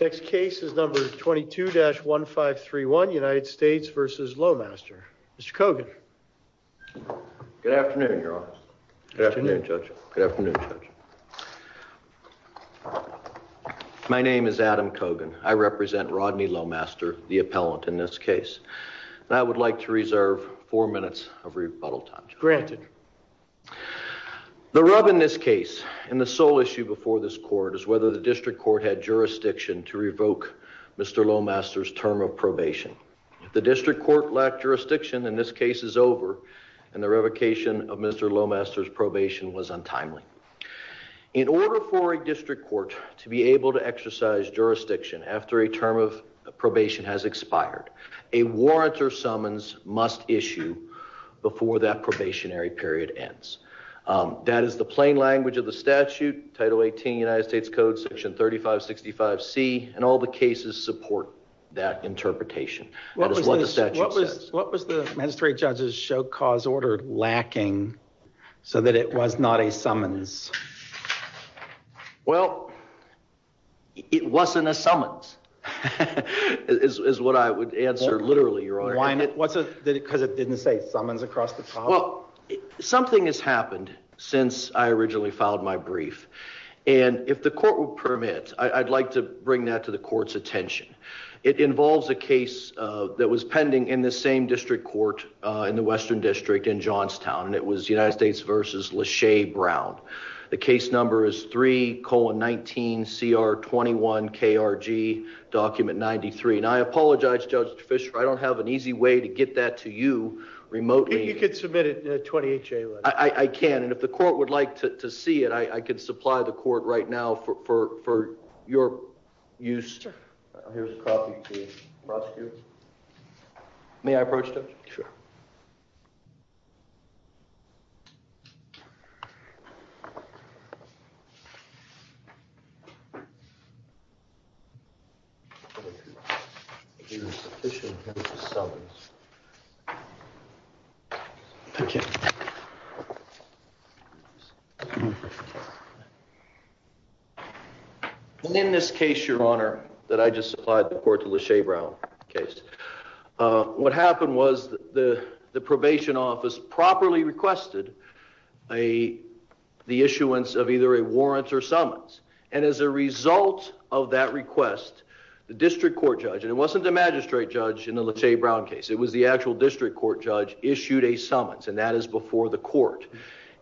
Next case is number 22-1531, United States v. Lowmaster. Mr. Kogan. Good afternoon, Your Honor. Good afternoon, Judge. My name is Adam Kogan. I represent Rodney Lowmaster, the appellant in this case. I would like to reserve four minutes of rebuttal time. Granted. The rub in this case and the sole issue before this court is whether the district court had jurisdiction to revoke Mr. Lowmaster's term of probation. If the district court lacked jurisdiction, then this case is over and the revocation of Mr. Lowmaster's probation was untimely. In order for a district court to be able to exercise jurisdiction after a term of probation has expired, a warrant or summons must issue before that probationary period ends. That is the plain language of the statute, Title 18 United States Code, Section 3565C, and all the cases support that interpretation. That is what the statute says. What was the magistrate judge's show cause order lacking so that it was not a summons? Well, it wasn't a summons, is what I would answer literally, Your Honor. Why not? Because it didn't say summons across the top? Well, something has happened since I originally filed my brief, and if the court would permit, I'd like to bring that to the court's attention. It involves a case that was pending in the same district court in the Western District in Johnstown, and it was United States v. LeShay Brown. The case number is 3-19-CR-21-KRG, document 93. And I apologize, Judge Fischer, I don't have an easy way to get that to you remotely. You could submit it in a 28-J letter. I can, and if the court would like to see it, I could supply the court right now for your use. Here's a copy to the prosecutor. May I approach, Judge? Sure. Thank you. In this case, Your Honor, that I just supplied the court to LeShay Brown case, what happened was the probation office properly requested the issuance of either a warrant or summons. And as a result of that request, the district court judge, and it wasn't the magistrate judge in the LeShay Brown case, it was the actual district court judge, issued a summons, and that is before the court.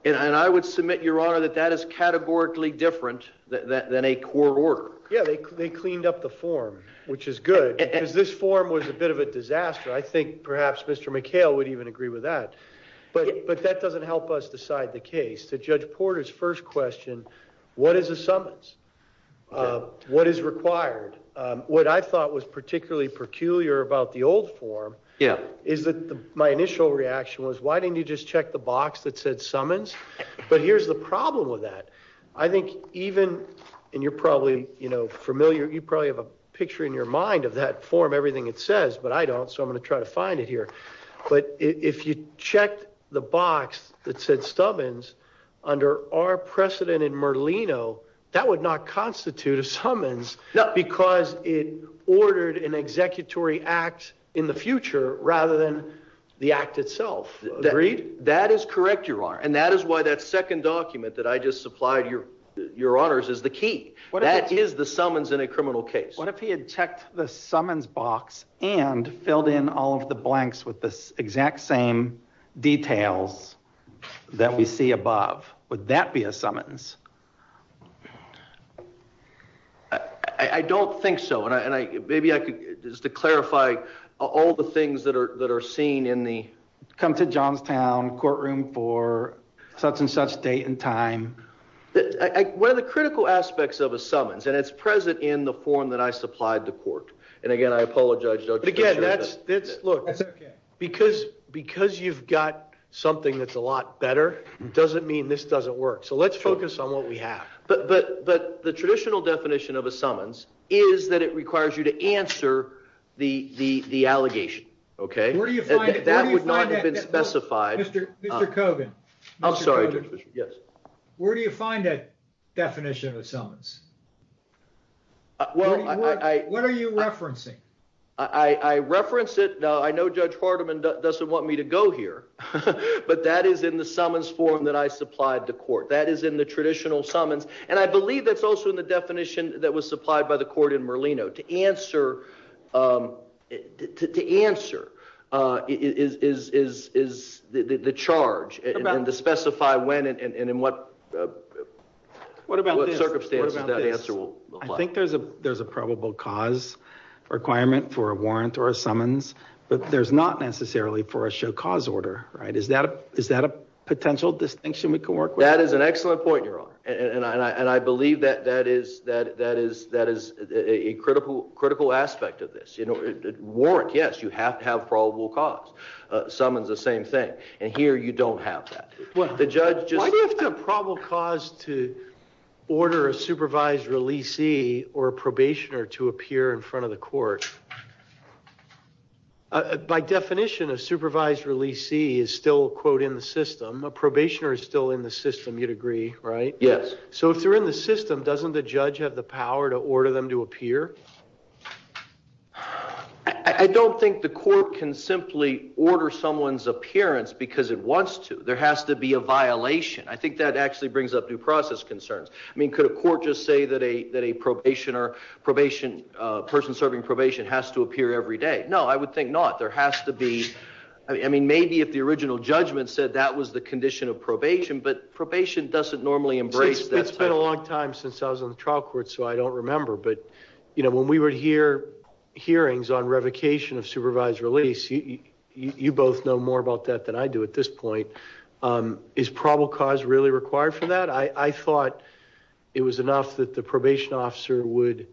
And I would submit, Your Honor, that that is categorically different than a court order. Yeah, they cleaned up the form, which is good, because this form was a bit of a disaster. I think perhaps Mr. McHale would even agree with that. But that doesn't help us decide the case. To Judge Porter's first question, what is a summons? What is required? What I thought was particularly peculiar about the old form is that my initial reaction was, why didn't you just check the box that said summons? But here's the problem with that. I think even, and you're probably familiar, you probably have a picture in your mind of that form, everything it says, but I don't, so I'm going to try to find it here. But if you checked the box that said summons, under our precedent in Merlino, that would not constitute a summons because it ordered an executory act in the future rather than the act itself. Agreed? That is correct, Your Honor. And that is why that second document that I just supplied, Your Honors, is the key. That is the summons in a criminal case. What if he had checked the summons box and filled in all of the blanks with the exact same details that we see above? Would that be a summons? I don't think so, and maybe I could, just to clarify, all the things that are seen in the come to Johnstown courtroom for such and such date and time. One of the critical aspects of a summons, and it's present in the form that I supplied to court, and again, I apologize, Judge Fisher. But again, that's, look, because you've got something that's a lot better, it doesn't mean this doesn't work. So let's focus on what we have. But the traditional definition of a summons is that it requires you to answer the allegation, okay? Where do you find it? That would not have been specified. Mr. Kogan. I'm sorry, Judge Fisher. Yes. Where do you find that definition of summons? What are you referencing? I reference it. I know Judge Hardiman doesn't want me to go here, but that is in the summons form that I supplied to court. That is in the traditional summons. And I believe that's also in the definition that was supplied by the court in Merlino. To answer is the charge, and to specify when and in what circumstances that answer will apply. I think there's a probable cause requirement for a warrant or a summons, but there's not necessarily for a show cause order, right? Is that a potential distinction we can work with? That is an excellent point, Your Honor. And I believe that is a critical aspect of this. Warrant, yes, you have to have probable cause. Summons, the same thing. And here you don't have that. Why do you have to have probable cause to order a supervised releasee or a probationer to appear in front of the court? By definition, a supervised releasee is still, quote, in the system. A probationer is still in the system, you'd agree, right? Yes. So if they're in the system, doesn't the judge have the power to order them to appear? I don't think the court can simply order someone's appearance because it wants to. There has to be a violation. I think that actually brings up due process concerns. I mean, could a court just say that a probationer, a person serving probation has to appear every day? No, I would think not. There has to be. I mean, maybe if the original judgment said that was the condition of probation, but probation doesn't normally embrace that. It's been a long time since I was on the trial court, so I don't remember. But, you know, when we were here hearings on revocation of supervised release, you both know more about that than I do at this point. Is probable cause really required for that? I thought it was enough that the probation officer would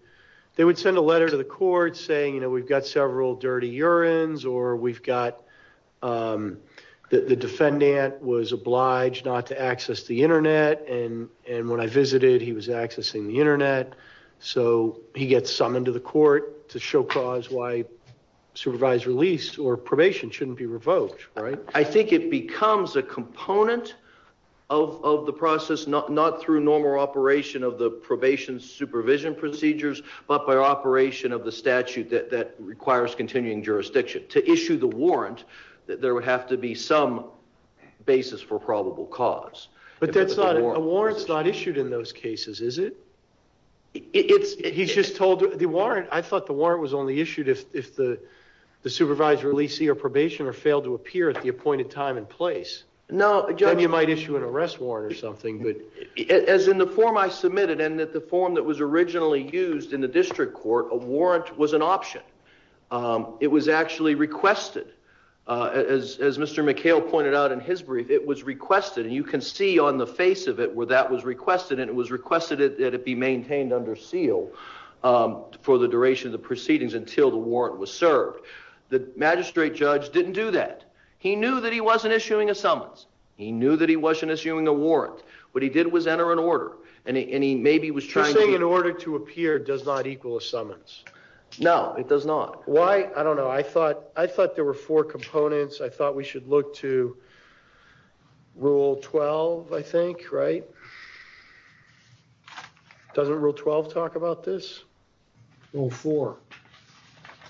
they would send a letter to the court saying, you know, we've got several dirty urines or we've got the defendant was obliged not to access the Internet. And when I visited, he was accessing the Internet. So he gets summoned to the court to show cause why supervised release or probation shouldn't be revoked. Right. I think it becomes a component of the process, not through normal operation of the probation supervision procedures, but by operation of the statute that requires continuing jurisdiction to issue the warrant. There would have to be some basis for probable cause. But that's not a warrant. It's not issued in those cases, is it? It's he's just told the warrant. I thought the warrant was only issued if the supervisor released your probation or failed to appear at the appointed time and place. Now, John, you might issue an arrest warrant or something. As in the form I submitted and that the form that was originally used in the district court, a warrant was an option. It was actually requested, as Mr. McHale pointed out in his brief. You can see on the face of it where that was requested and it was requested that it be maintained under seal for the duration of the proceedings until the warrant was served. The magistrate judge didn't do that. He knew that he wasn't issuing a summons. He knew that he wasn't issuing a warrant. What he did was enter an order. And he maybe was trying to say in order to appear does not equal a summons. No, it does not. Why? I don't know. I thought I thought there were four components. I thought we should look to rule 12, I think. Right. Doesn't rule 12 talk about this? Rule 4.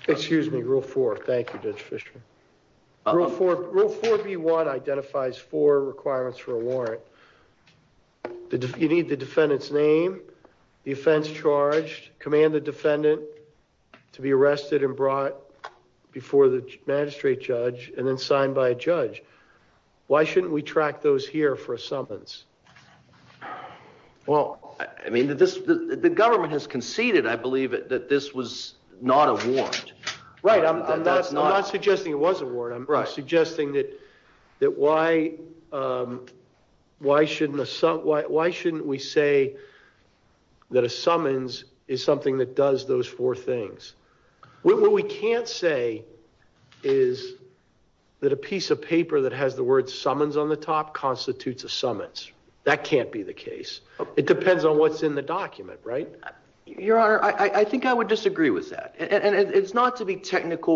Excuse me. Rule 4. Thank you, Judge Fisher. Rule 4B1 identifies four requirements for a warrant. You need the defendant's name, the offense charged, command the defendant to be arrested and brought before the magistrate judge and then signed by a judge. Why shouldn't we track those here for a summons? Well, I mean, the government has conceded, I believe, that this was not a warrant. Right. I'm not suggesting it was a warrant. I'm suggesting that that why why shouldn't why shouldn't we say that a summons is something that does those four things? What we can't say is that a piece of paper that has the word summons on the top constitutes a summons. That can't be the case. It depends on what's in the document. Right. Your Honor, I think I would disagree with that. And it's not to be technical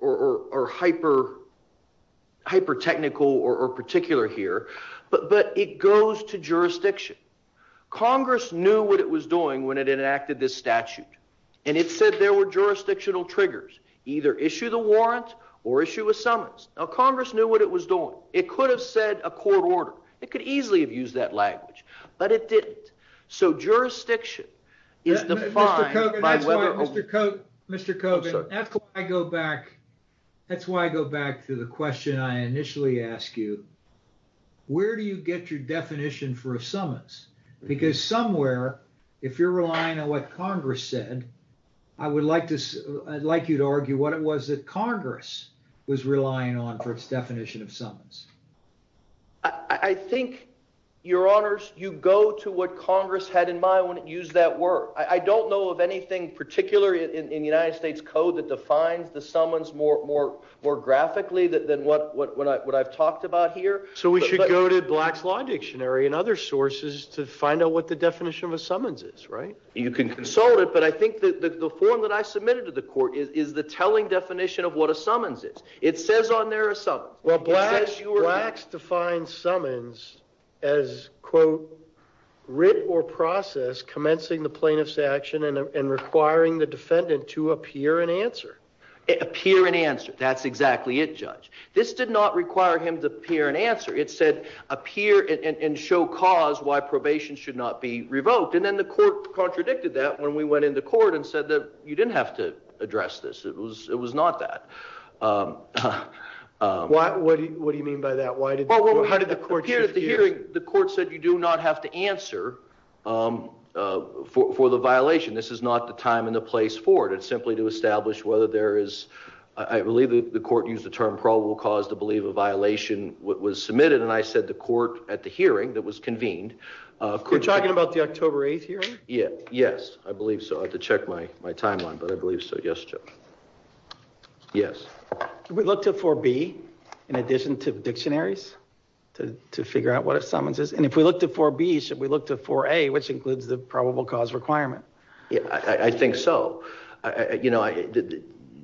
or hyper hyper technical or particular here. But but it goes to jurisdiction. Congress knew what it was doing when it enacted this statute. And it said there were jurisdictional triggers, either issue the warrant or issue a summons. Now, Congress knew what it was doing. It could have said a court order. It could easily have used that language. But it didn't. So jurisdiction is defined by whether Mr. Cote, Mr. Cote. I go back. That's why I go back to the question I initially asked you. Where do you get your definition for a summons? Because somewhere, if you're relying on what Congress said, I would like to I'd like you to argue what it was that Congress was relying on for its definition of summons. I think your honors, you go to what Congress had in mind when it used that word. I don't know of anything particular in the United States code that defines the summons more, more, more graphically than what what I've talked about here. So we should go to Black's Law Dictionary and other sources to find out what the definition of a summons is. Right. You can consult it. But I think that the form that I submitted to the court is the telling definition of what a summons is. It says on there a summons. Well, Black's defines summons as, quote, writ or process commencing the plaintiff's action and requiring the defendant to appear and answer, appear and answer. That's exactly it, Judge. This did not require him to appear and answer. It said appear and show cause why probation should not be revoked. And then the court contradicted that when we went into court and said that you didn't have to address this. It was it was not that. What do you mean by that? Why did the court hear the hearing? The court said you do not have to answer for the violation. This is not the time and the place for it. It's simply to establish whether there is. I believe the court used the term probable cause to believe a violation was submitted. And I said the court at the hearing that was convened. We're talking about the October 8th here. Yeah. Yes, I believe so. I have to check my my timeline, but I believe so. Yes. Yes. We looked up for B in addition to dictionaries to to figure out what a summons is. And if we look to for B, should we look to for a which includes the probable cause requirement? I think so. You know,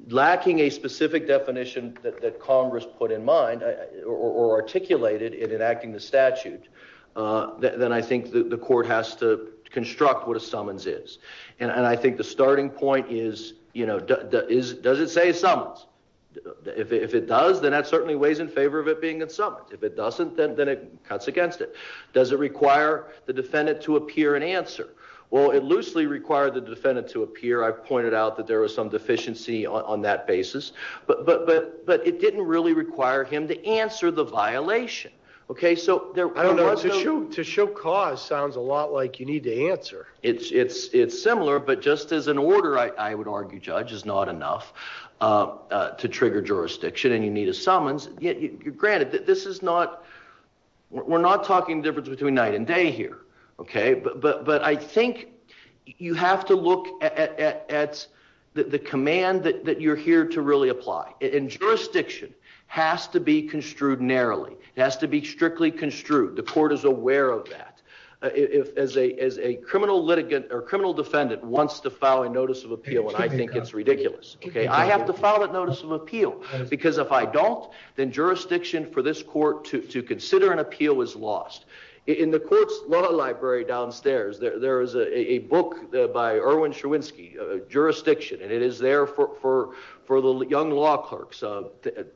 lacking a specific definition that Congress put in mind or articulated in enacting the statute. Then I think the court has to construct what a summons is. And I think the starting point is, you know, is does it say summons? If it does, then that certainly weighs in favor of it being a summons. If it doesn't, then it cuts against it. Does it require the defendant to appear and answer? Well, it loosely required the defendant to appear. I pointed out that there was some deficiency on that basis, but but but but it didn't really require him to answer the violation. OK, so there was a shoe to show cause. Sounds a lot like you need to answer. It's it's it's similar, but just as an order, I would argue judge is not enough to trigger jurisdiction and you need a summons. Granted, this is not we're not talking difference between night and day here. OK, but but but I think you have to look at the command that you're here to really apply. And jurisdiction has to be construed narrowly. It has to be strictly construed. The court is aware of that. If as a as a criminal litigant or criminal defendant wants to file a notice of appeal, I think it's ridiculous. OK, I have to follow that notice of appeal because if I don't, then jurisdiction for this court to consider an appeal is lost in the court's law library downstairs. There is a book by Erwin Scherwinski, Jurisdiction, and it is there for for the young law clerks of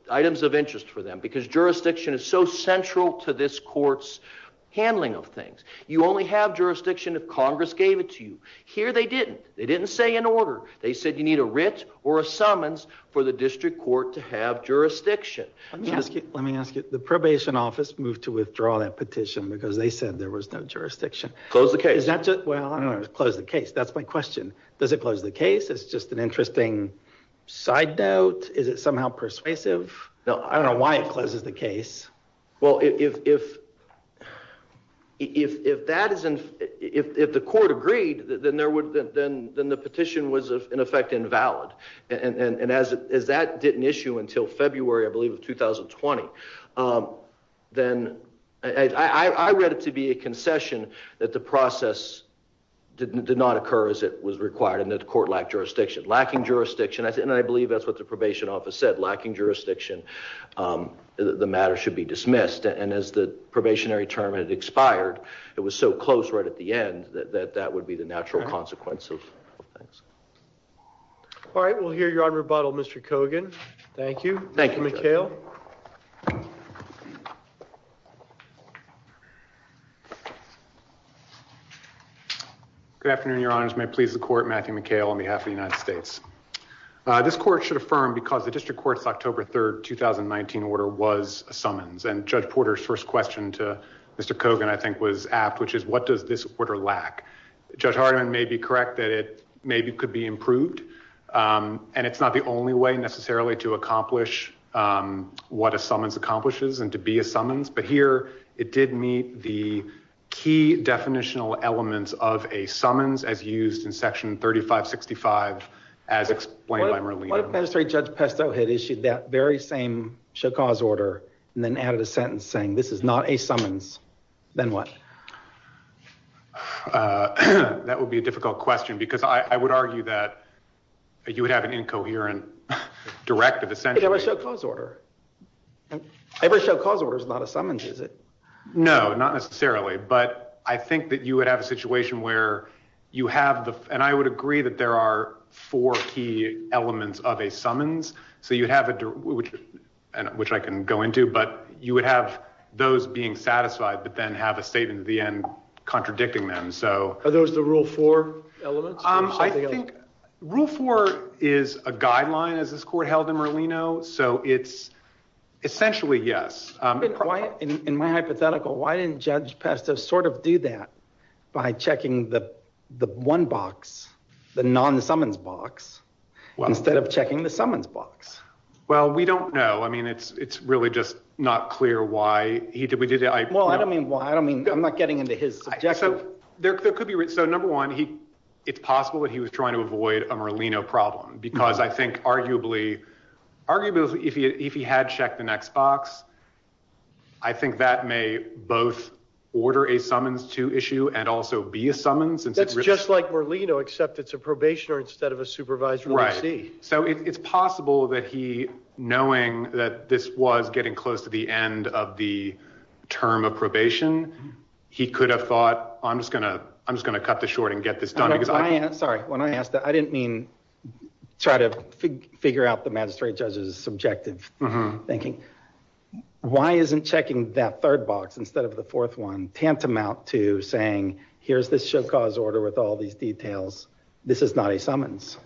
items of interest for them because jurisdiction is so central to this court's handling of things. You only have jurisdiction if Congress gave it to you here. They didn't. They didn't say in order. They said you need a writ or a summons for the district court to have jurisdiction. Let me ask you. Let me ask you. The probation office moved to withdraw that petition because they said there was no jurisdiction. Close the case. Well, close the case. That's my question. Does it close the case? It's just an interesting side note. Is it somehow persuasive? Now, I don't know why it closes the case. Well, if if if if if that isn't if the court agreed, then there would then then the petition was, in effect, invalid. And as as that didn't issue until February, I believe, of 2020, then I read it to be a concession that the process did not occur as it was required. And the court lacked jurisdiction, lacking jurisdiction. And I believe that's what the probation office said, lacking jurisdiction. The matter should be dismissed. And as the probationary term had expired, it was so close right at the end that that would be the natural consequence of things. All right. We'll hear you on rebuttal, Mr. Kogan. Thank you. Thank you, Mikhail. Good afternoon, Your Honors. May it please the court. Matthew McHale on behalf of the United States. This court should affirm because the district court's October 3rd, 2019 order was a summons and Judge Porter's first question to Mr. Kogan, I think, was apt, which is what does this order lack? Judge Hardiman may be correct that it maybe could be improved. And it's not the only way necessarily to accomplish what a summons accomplishes and to be a summons. But here it did meet the key definitional elements of a summons, as used in Section 3565, as explained by Merlene. What if Penitentiary Judge Pesto had issued that very same show cause order and then added a sentence saying this is not a summons? Then what? That would be a difficult question, because I would argue that you would have an incoherent directive. Essentially, there was no cause order. Every show cause order is not a summons, is it? No, not necessarily. But I think that you would have a situation where you have the and I would agree that there are four key elements of a summons. So you'd have it, which I can go into, but you would have those being satisfied, but then have a statement at the end contradicting them. So are those the rule for elements? I think rule four is a guideline as this court held in Merlino. So it's essentially, yes. In my hypothetical, why didn't Judge Pesto sort of do that by checking the the one box, the non summons box? Well, instead of checking the summons box. Well, we don't know. I mean, it's it's really just not clear why he did. We did. Well, I don't mean why. I don't mean I'm not getting into his. So there could be. So, number one, it's possible that he was trying to avoid a Merlino problem because I think arguably, arguably, if he had checked the next box. I think that may both order a summons to issue and also be a summons. That's just like Merlino, except it's a probationer instead of a supervisor. Right. So it's possible that he knowing that this was getting close to the end of the term of probation, he could have thought, I'm just going to I'm just going to cut the short and get this done. Sorry, when I asked that, I didn't mean try to figure out the magistrate judge's subjective thinking. Why isn't checking that third box instead of the fourth one tantamount to saying, here's this show cause order with all these details. This is not a summons.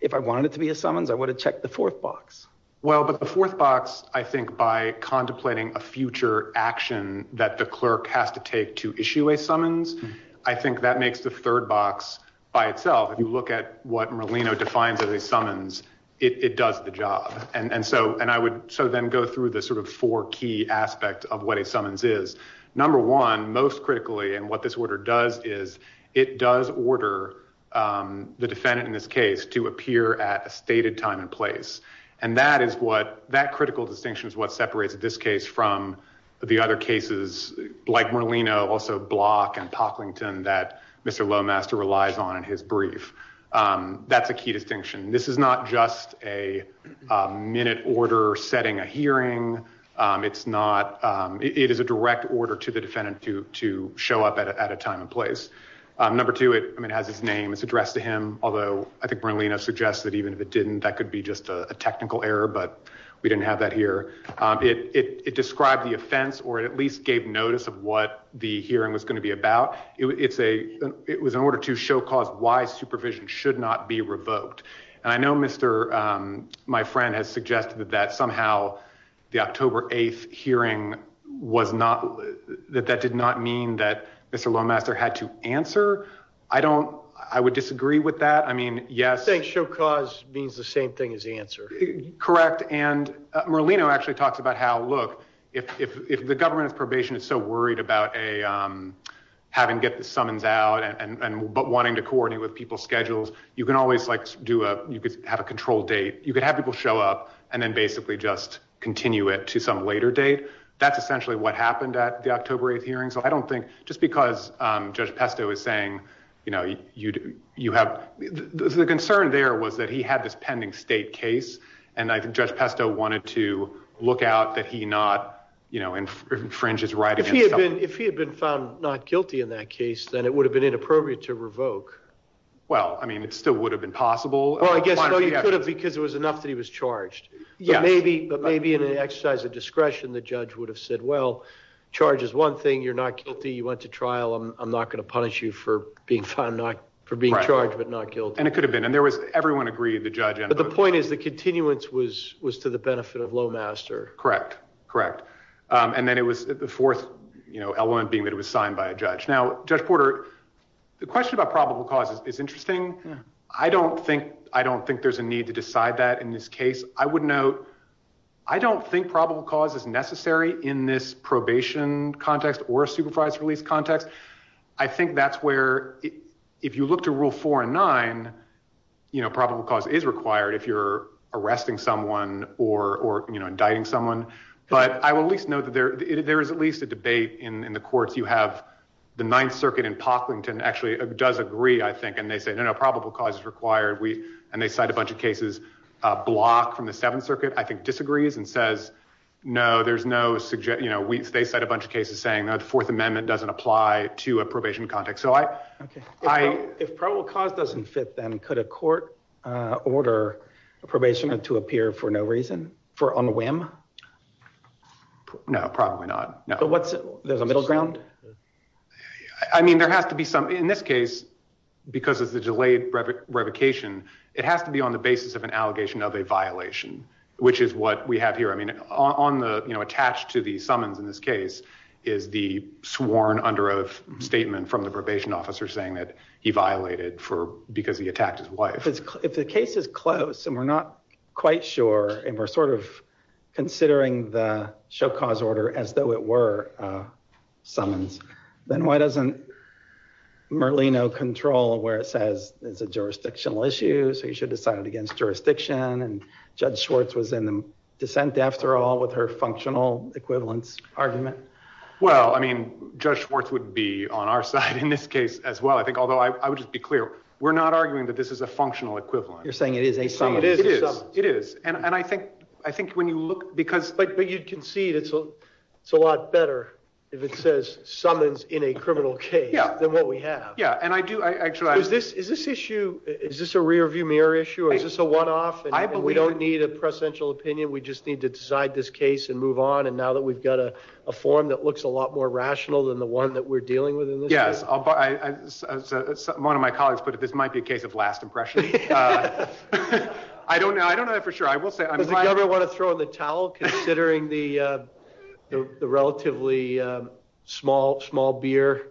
If I wanted it to be a summons, I would have checked the fourth box. Well, but the fourth box, I think by contemplating a future action that the clerk has to take to issue a summons, I think that makes the third box by itself. If you look at what Merlino defines as a summons, it does the job. And so and I would so then go through the sort of four key aspect of what a summons is. Number one, most critically, and what this order does is it does order the defendant in this case to appear at a stated time and place. And that is what that critical distinction is, what separates this case from the other cases like Merlino, also Block and Parklington that Mr. Lomaster relies on in his brief. That's a key distinction. This is not just a minute order setting a hearing. It's not. It is a direct order to the defendant to to show up at a time and place. Number two, it has his name. It's addressed to him, although I think Merlino suggests that even if it didn't, that could be just a technical error. But we didn't have that here. It described the offense or at least gave notice of what the hearing was going to be about. It's a it was an order to show cause why supervision should not be revoked. And I know, Mr. My friend has suggested that somehow the October 8th hearing was not that that did not mean that Mr. Lomaster had to answer. I don't I would disagree with that. I mean, yes. Show cause means the same thing as the answer. Correct. And Merlino actually talks about how. Look, if the government's probation is so worried about a having get the summons out and but wanting to coordinate with people's schedules, you can always like do a you could have a control date. You could have people show up and then basically just continue it to some later date. That's essentially what happened at the October 8th hearing. So I don't think just because Judge Pesto is saying, you know, you'd you have the concern there was that he had this pending state case. And I think Judge Pesto wanted to look out that he not, you know, infringes right. If he had been if he had been found not guilty in that case, then it would have been inappropriate to revoke. Well, I mean, it still would have been possible, I guess, because it was enough that he was charged. Yeah, maybe. But maybe in an exercise of discretion, the judge would have said, well, charge is one thing. You're not guilty. You went to trial. I'm not going to punish you for being found not for being charged, but not guilty. And it could have been and there was everyone agreed the judge. But the point is the continuance was was to the benefit of Lomaster. Correct. Correct. And then it was the fourth element being that it was signed by a judge. Now, Judge Porter, the question about probable causes is interesting. I don't think I don't think there's a need to decide that in this case. I would note I don't think probable cause is necessary in this probation context or a supervised release context. I think that's where if you look to rule four and nine, you know, probable cause is required if you're arresting someone or, you know, indicting someone. But I will at least know that there is at least a debate in the courts. You have the Ninth Circuit in Parkland and actually does agree, I think. And they say, no, no, probable cause is required. We and they cite a bunch of cases block from the Seventh Circuit, I think, disagrees and says, no, there's no suggestion. You know, they said a bunch of cases saying the Fourth Amendment doesn't apply to a probation context. So I, I, if probable cause doesn't fit, then could a court order a probation to appear for no reason for on a whim? No, probably not. But what's the middle ground? I mean, there has to be some in this case because of the delayed revocation. It has to be on the basis of an allegation of a violation, which is what we have here. I mean, on the, you know, attached to the summons in this case is the sworn under oath statement from the probation officer saying that he violated for because he attacked his wife. If the case is close and we're not quite sure and we're sort of considering the show cause order as though it were summons, then why doesn't Merlino control where it says it's a jurisdictional issue? So you should decide it against jurisdiction. And Judge Schwartz was in dissent after all with her functional equivalence argument. Well, I mean, Judge Schwartz would be on our side in this case as well. I think, although I would just be clear, we're not arguing that this is a functional equivalent. You're saying it is a summons? It is. It is. And I think, I think when you look, because. But you can see it's a lot better if it says summons in a criminal case than what we have. Yeah. And I do. Is this, is this issue, is this a rear view mirror issue or is this a one off? And we don't need a presidential opinion. We just need to decide this case and move on. And now that we've got a form that looks a lot more rational than the one that we're dealing with. Yes. One of my colleagues put it, this might be a case of last impression. I don't know. I don't know that for sure. I will say I never want to throw in the towel considering the relatively small, small beer.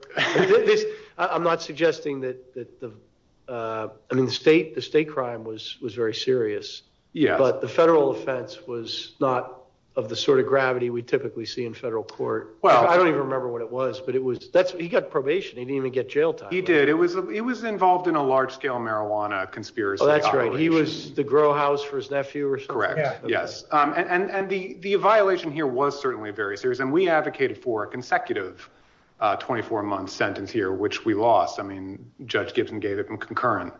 I'm not suggesting that the state, the state crime was, was very serious. Yeah. But the federal offense was not of the sort of gravity we typically see in federal court. Well, I don't even remember what it was, but it was that he got probation. He didn't even get jail time. He did. It was it was involved in a large scale marijuana conspiracy. That's right. He was the grow house for his nephew. Correct. Yes. And the the violation here was certainly very serious. And we advocated for a consecutive 24 month sentence here, which we lost. I mean, Judge Gibson gave it from concurrent.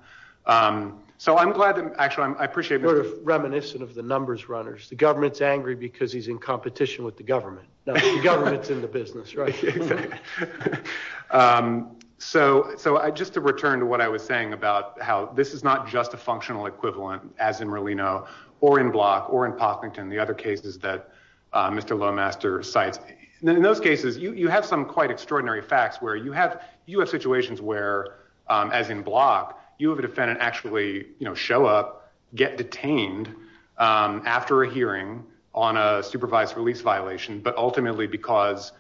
So I'm glad that actually I appreciate reminiscent of the numbers runners. The government's angry because he's in competition with the government. The government's in the business. So. So I just to return to what I was saying about how this is not just a functional equivalent, as in Rolino or in block or in Parkington, the other cases that Mr. Lomaster cites in those cases, you have some quite extraordinary facts where you have you have situations where, as in block, you have a defendant actually show up, get detained after a hearing on a supervised release violation. But ultimately, because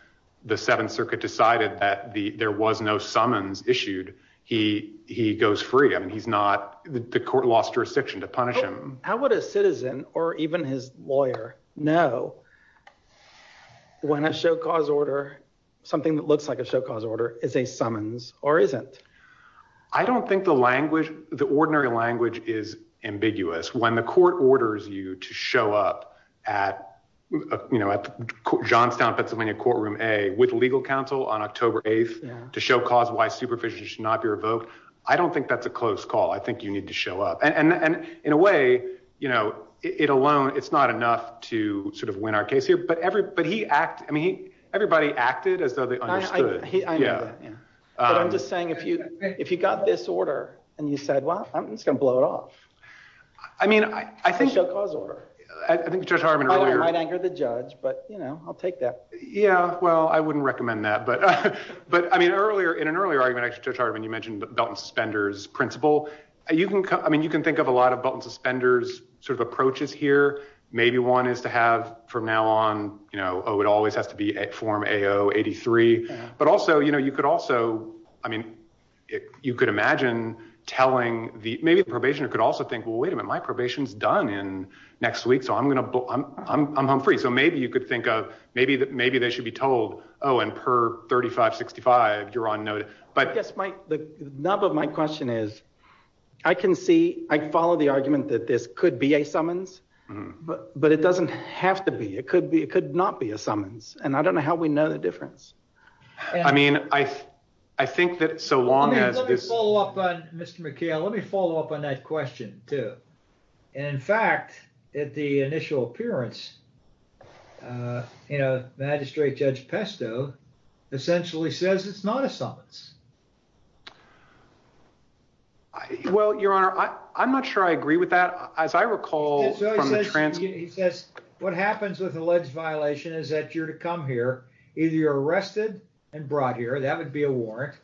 the Seventh Circuit decided that there was no summons issued, he he goes free. I mean, he's not the court lost jurisdiction to punish him. How would a citizen or even his lawyer know when a show cause order something that looks like a show cause order is a summons or isn't? I don't think the language, the ordinary language is ambiguous when the court orders you to show up at, you know, at Johnstown, Pennsylvania, courtroom a with legal counsel on October 8th to show cause why superficial should not be revoked. I don't think that's a close call. I think you need to show up. And in a way, you know, it alone, it's not enough to sort of win our case here. But every but he act. I mean, everybody acted as though they understood. Yeah. I'm just saying, if you if you got this order and you said, well, I'm just going to blow it off. I mean, I think show cause order. I think Judge Harman might anger the judge, but, you know, I'll take that. Yeah. Well, I wouldn't recommend that. But but I mean, earlier in an earlier argument, I started when you mentioned the suspenders principle. You can I mean, you can think of a lot of button suspenders sort of approaches here. Maybe one is to have from now on, you know, oh, it always has to be a form a 083. But also, you know, you could also I mean, you could imagine telling the maybe probation could also think, well, wait a minute. My probation's done in next week. So I'm going to I'm I'm I'm free. So maybe you could think of maybe that maybe they should be told, oh, and per thirty five, sixty five, you're on notice. But that's my number. My question is, I can see I follow the argument that this could be a summons, but it doesn't have to be. It could be it could not be a summons. And I don't know how we know the difference. I mean, I I think that so long as this Mr. McKeon, let me follow up on that question, too. And in fact, at the initial appearance, you know, magistrate Judge Pesto essentially says it's not a summons. Well, your honor, I'm not sure I agree with that, as I recall. So he says what happens with alleged violation is that you're to come here. Either you're arrested and brought here, that would be a warrant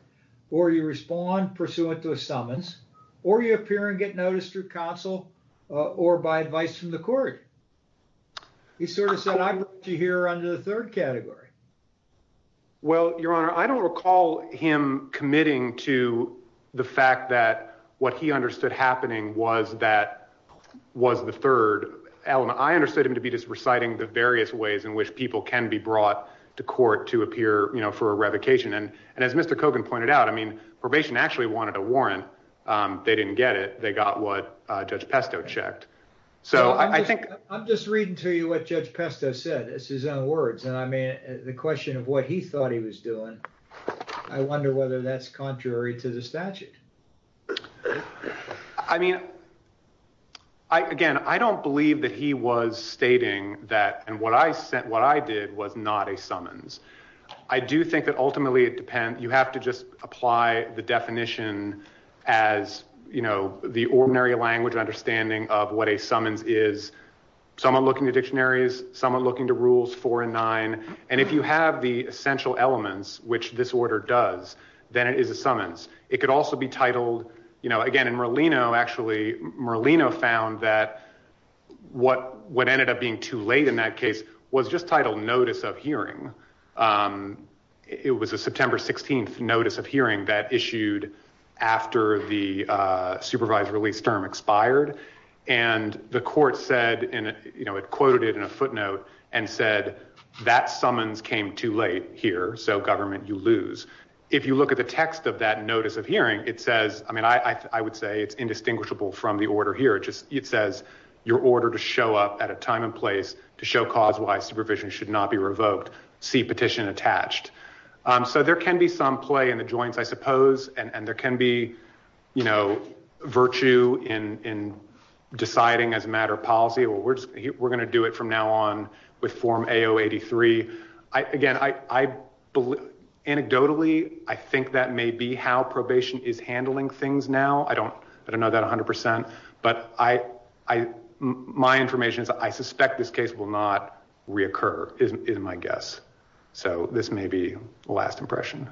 or you respond pursuant to a summons or you appear and get noticed through counsel or by advice from the court. He sort of said, I hear under the third category. Well, your honor, I don't recall him committing to the fact that what he understood happening was that was the third element. I understood him to be just reciting the various ways in which people can be brought to court to appear for a revocation. And as Mr. Kogan pointed out, I mean, probation actually wanted a warrant. They didn't get it. They got what Judge Pesto checked. So I think I'm just reading to you what Judge Pesto said. It's his own words. And I mean, the question of what he thought he was doing. I wonder whether that's contrary to the statute. I mean, I again, I don't believe that he was stating that. And what I said, what I did was not a summons. I do think that ultimately it depends. You have to just apply the definition as, you know, the ordinary language understanding of what a summons is. Someone looking at dictionaries, someone looking to rules four and nine. And if you have the essential elements, which this order does, then it is a summons. It could also be titled, you know, again, in Merlino, actually, Merlino found that what what ended up being too late in that case was just titled notice of hearing. It was a September 16th notice of hearing that issued after the supervised release term expired. And the court said, you know, it quoted it in a footnote and said that summons came too late here. So government, you lose. If you look at the text of that notice of hearing, it says, I mean, I would say it's indistinguishable from the order here. It just it says your order to show up at a time and place to show cause why supervision should not be revoked. See petition attached. So there can be some play in the joints, I suppose. And there can be, you know, virtue in deciding as a matter of policy. Well, we're just we're going to do it from now on with Form 8083. I again, I believe anecdotally, I think that may be how probation is handling things now. I don't I don't know that 100 percent, but I my information is I suspect this case will not reoccur is my guess. So this may be the last impression.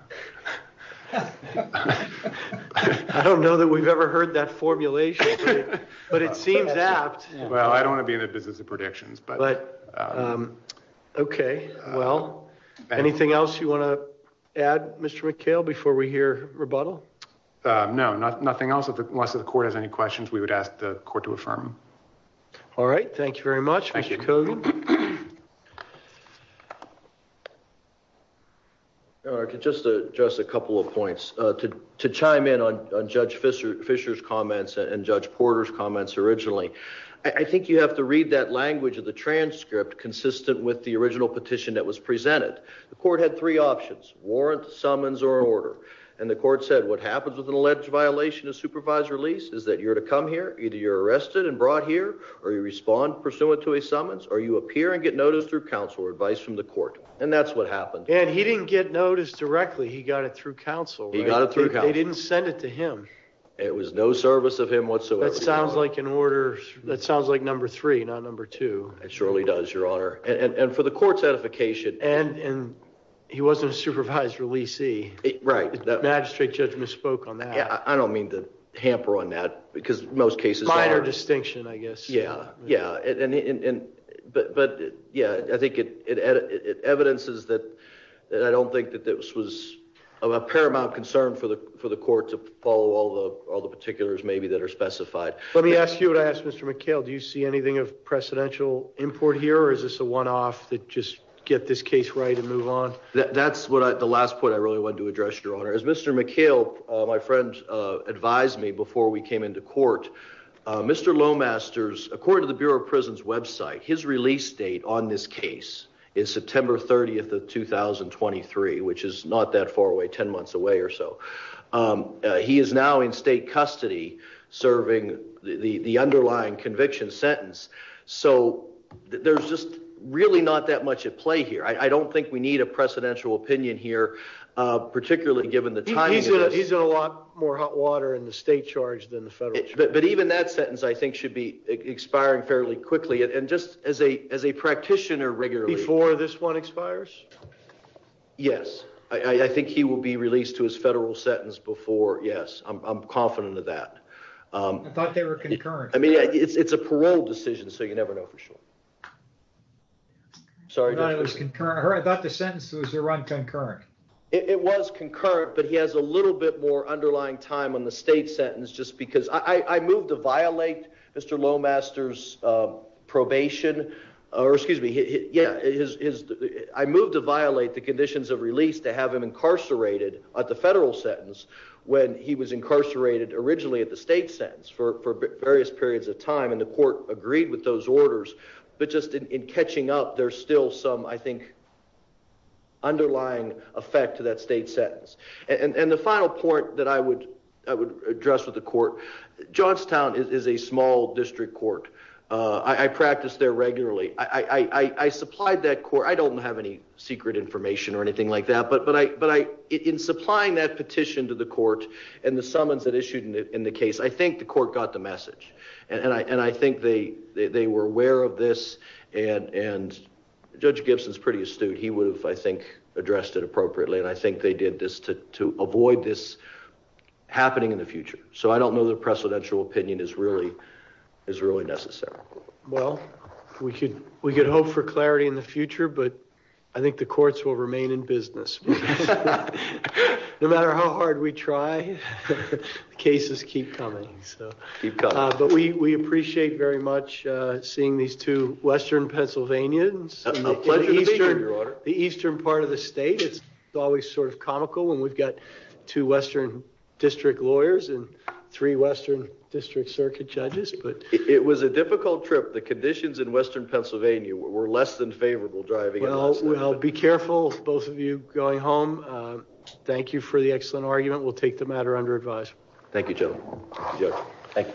I don't know that we've ever heard that formulation, but it seems apt. Well, I don't want to be in the business of predictions, but OK. Well, anything else you want to add, Mr. McHale, before we hear rebuttal? No, nothing else. Unless the court has any questions, we would ask the court to affirm. All right. Thank you very much. Thank you. Just just a couple of points to to chime in on Judge Fisher Fisher's comments and Judge Porter's comments originally. I think you have to read that language of the transcript consistent with the original petition that was presented. The court had three options, warrant, summons or order. And the court said what happens with an alleged violation of supervised release is that you're to come here. Either you're arrested and brought here or you respond pursuant to a summons or you appear and get noticed through counsel or advice from the court. And that's what happened. And he didn't get noticed directly. He got it through counsel. He got it through. They didn't send it to him. It was no service of him whatsoever. That sounds like an order. That sounds like number three, not number two. It surely does, Your Honor. And for the court's edification. And he wasn't a supervised releasee. Right. Magistrate judge misspoke on that. I don't mean to hamper on that because most cases minor distinction, I guess. Yeah. Yeah. And but yeah, I think it evidences that. And I don't think that this was of a paramount concern for the for the court to follow all the all the particulars maybe that are specified. Let me ask you what I asked Mr. McHale. Do you see anything of precedential import here? Or is this a one off that just get this case right and move on? That's what the last point I really want to address, Your Honor, is Mr. McHale. My friend advised me before we came into court, Mr. Lowe Masters, according to the Bureau of Prisons website, his release date on this case is September 30th of 2023, which is not that far away, 10 months away or so. He is now in state custody serving the underlying conviction sentence. So there's just really not that much at play here. I don't think we need a precedential opinion here, particularly given the time. He's in a lot more hot water in the state charge than the federal. But even that sentence, I think, should be expiring fairly quickly. And just as a as a practitioner regularly for this one expires. Yes, I think he will be released to his federal sentence before. Yes, I'm confident of that. I thought they were concurrent. I mean, it's a parole decision, so you never know for sure. Sorry, I was concurrent. I thought the sentence was run concurrent. It was concurrent, but he has a little bit more underlying time on the state sentence just because I moved to violate Mr. Lomaster's probation or excuse me. Yeah, it is. I moved to violate the conditions of release to have him incarcerated at the federal sentence when he was incarcerated originally at the state sentence for various periods of time. And the court agreed with those orders. But just in catching up, there's still some, I think. Underlying effect to that state sentence and the final point that I would I would address with the court, Georgetown is a small district court. I practice there regularly. I supplied that court. I don't have any secret information or anything like that. But but I but I in supplying that petition to the court and the summons that issued in the case, I think the court got the message. And I and I think they they were aware of this. And and Judge Gibson's pretty astute. He would have, I think, addressed it appropriately. And I think they did this to to avoid this happening in the future. So I don't know the precedential opinion is really is really necessary. Well, we could we could hope for clarity in the future, but I think the courts will remain in business no matter how hard we try. Cases keep coming. So you've got. But we appreciate very much. Seeing these two Western Pennsylvanians, the eastern part of the state. It's always sort of comical when we've got two Western district lawyers and three Western district circuit judges. But it was a difficult trip. The conditions in Western Pennsylvania were less than favorable driving. I'll be careful. Both of you going home. Thank you for the excellent argument. We'll take the matter under advice. Thank you, Joe.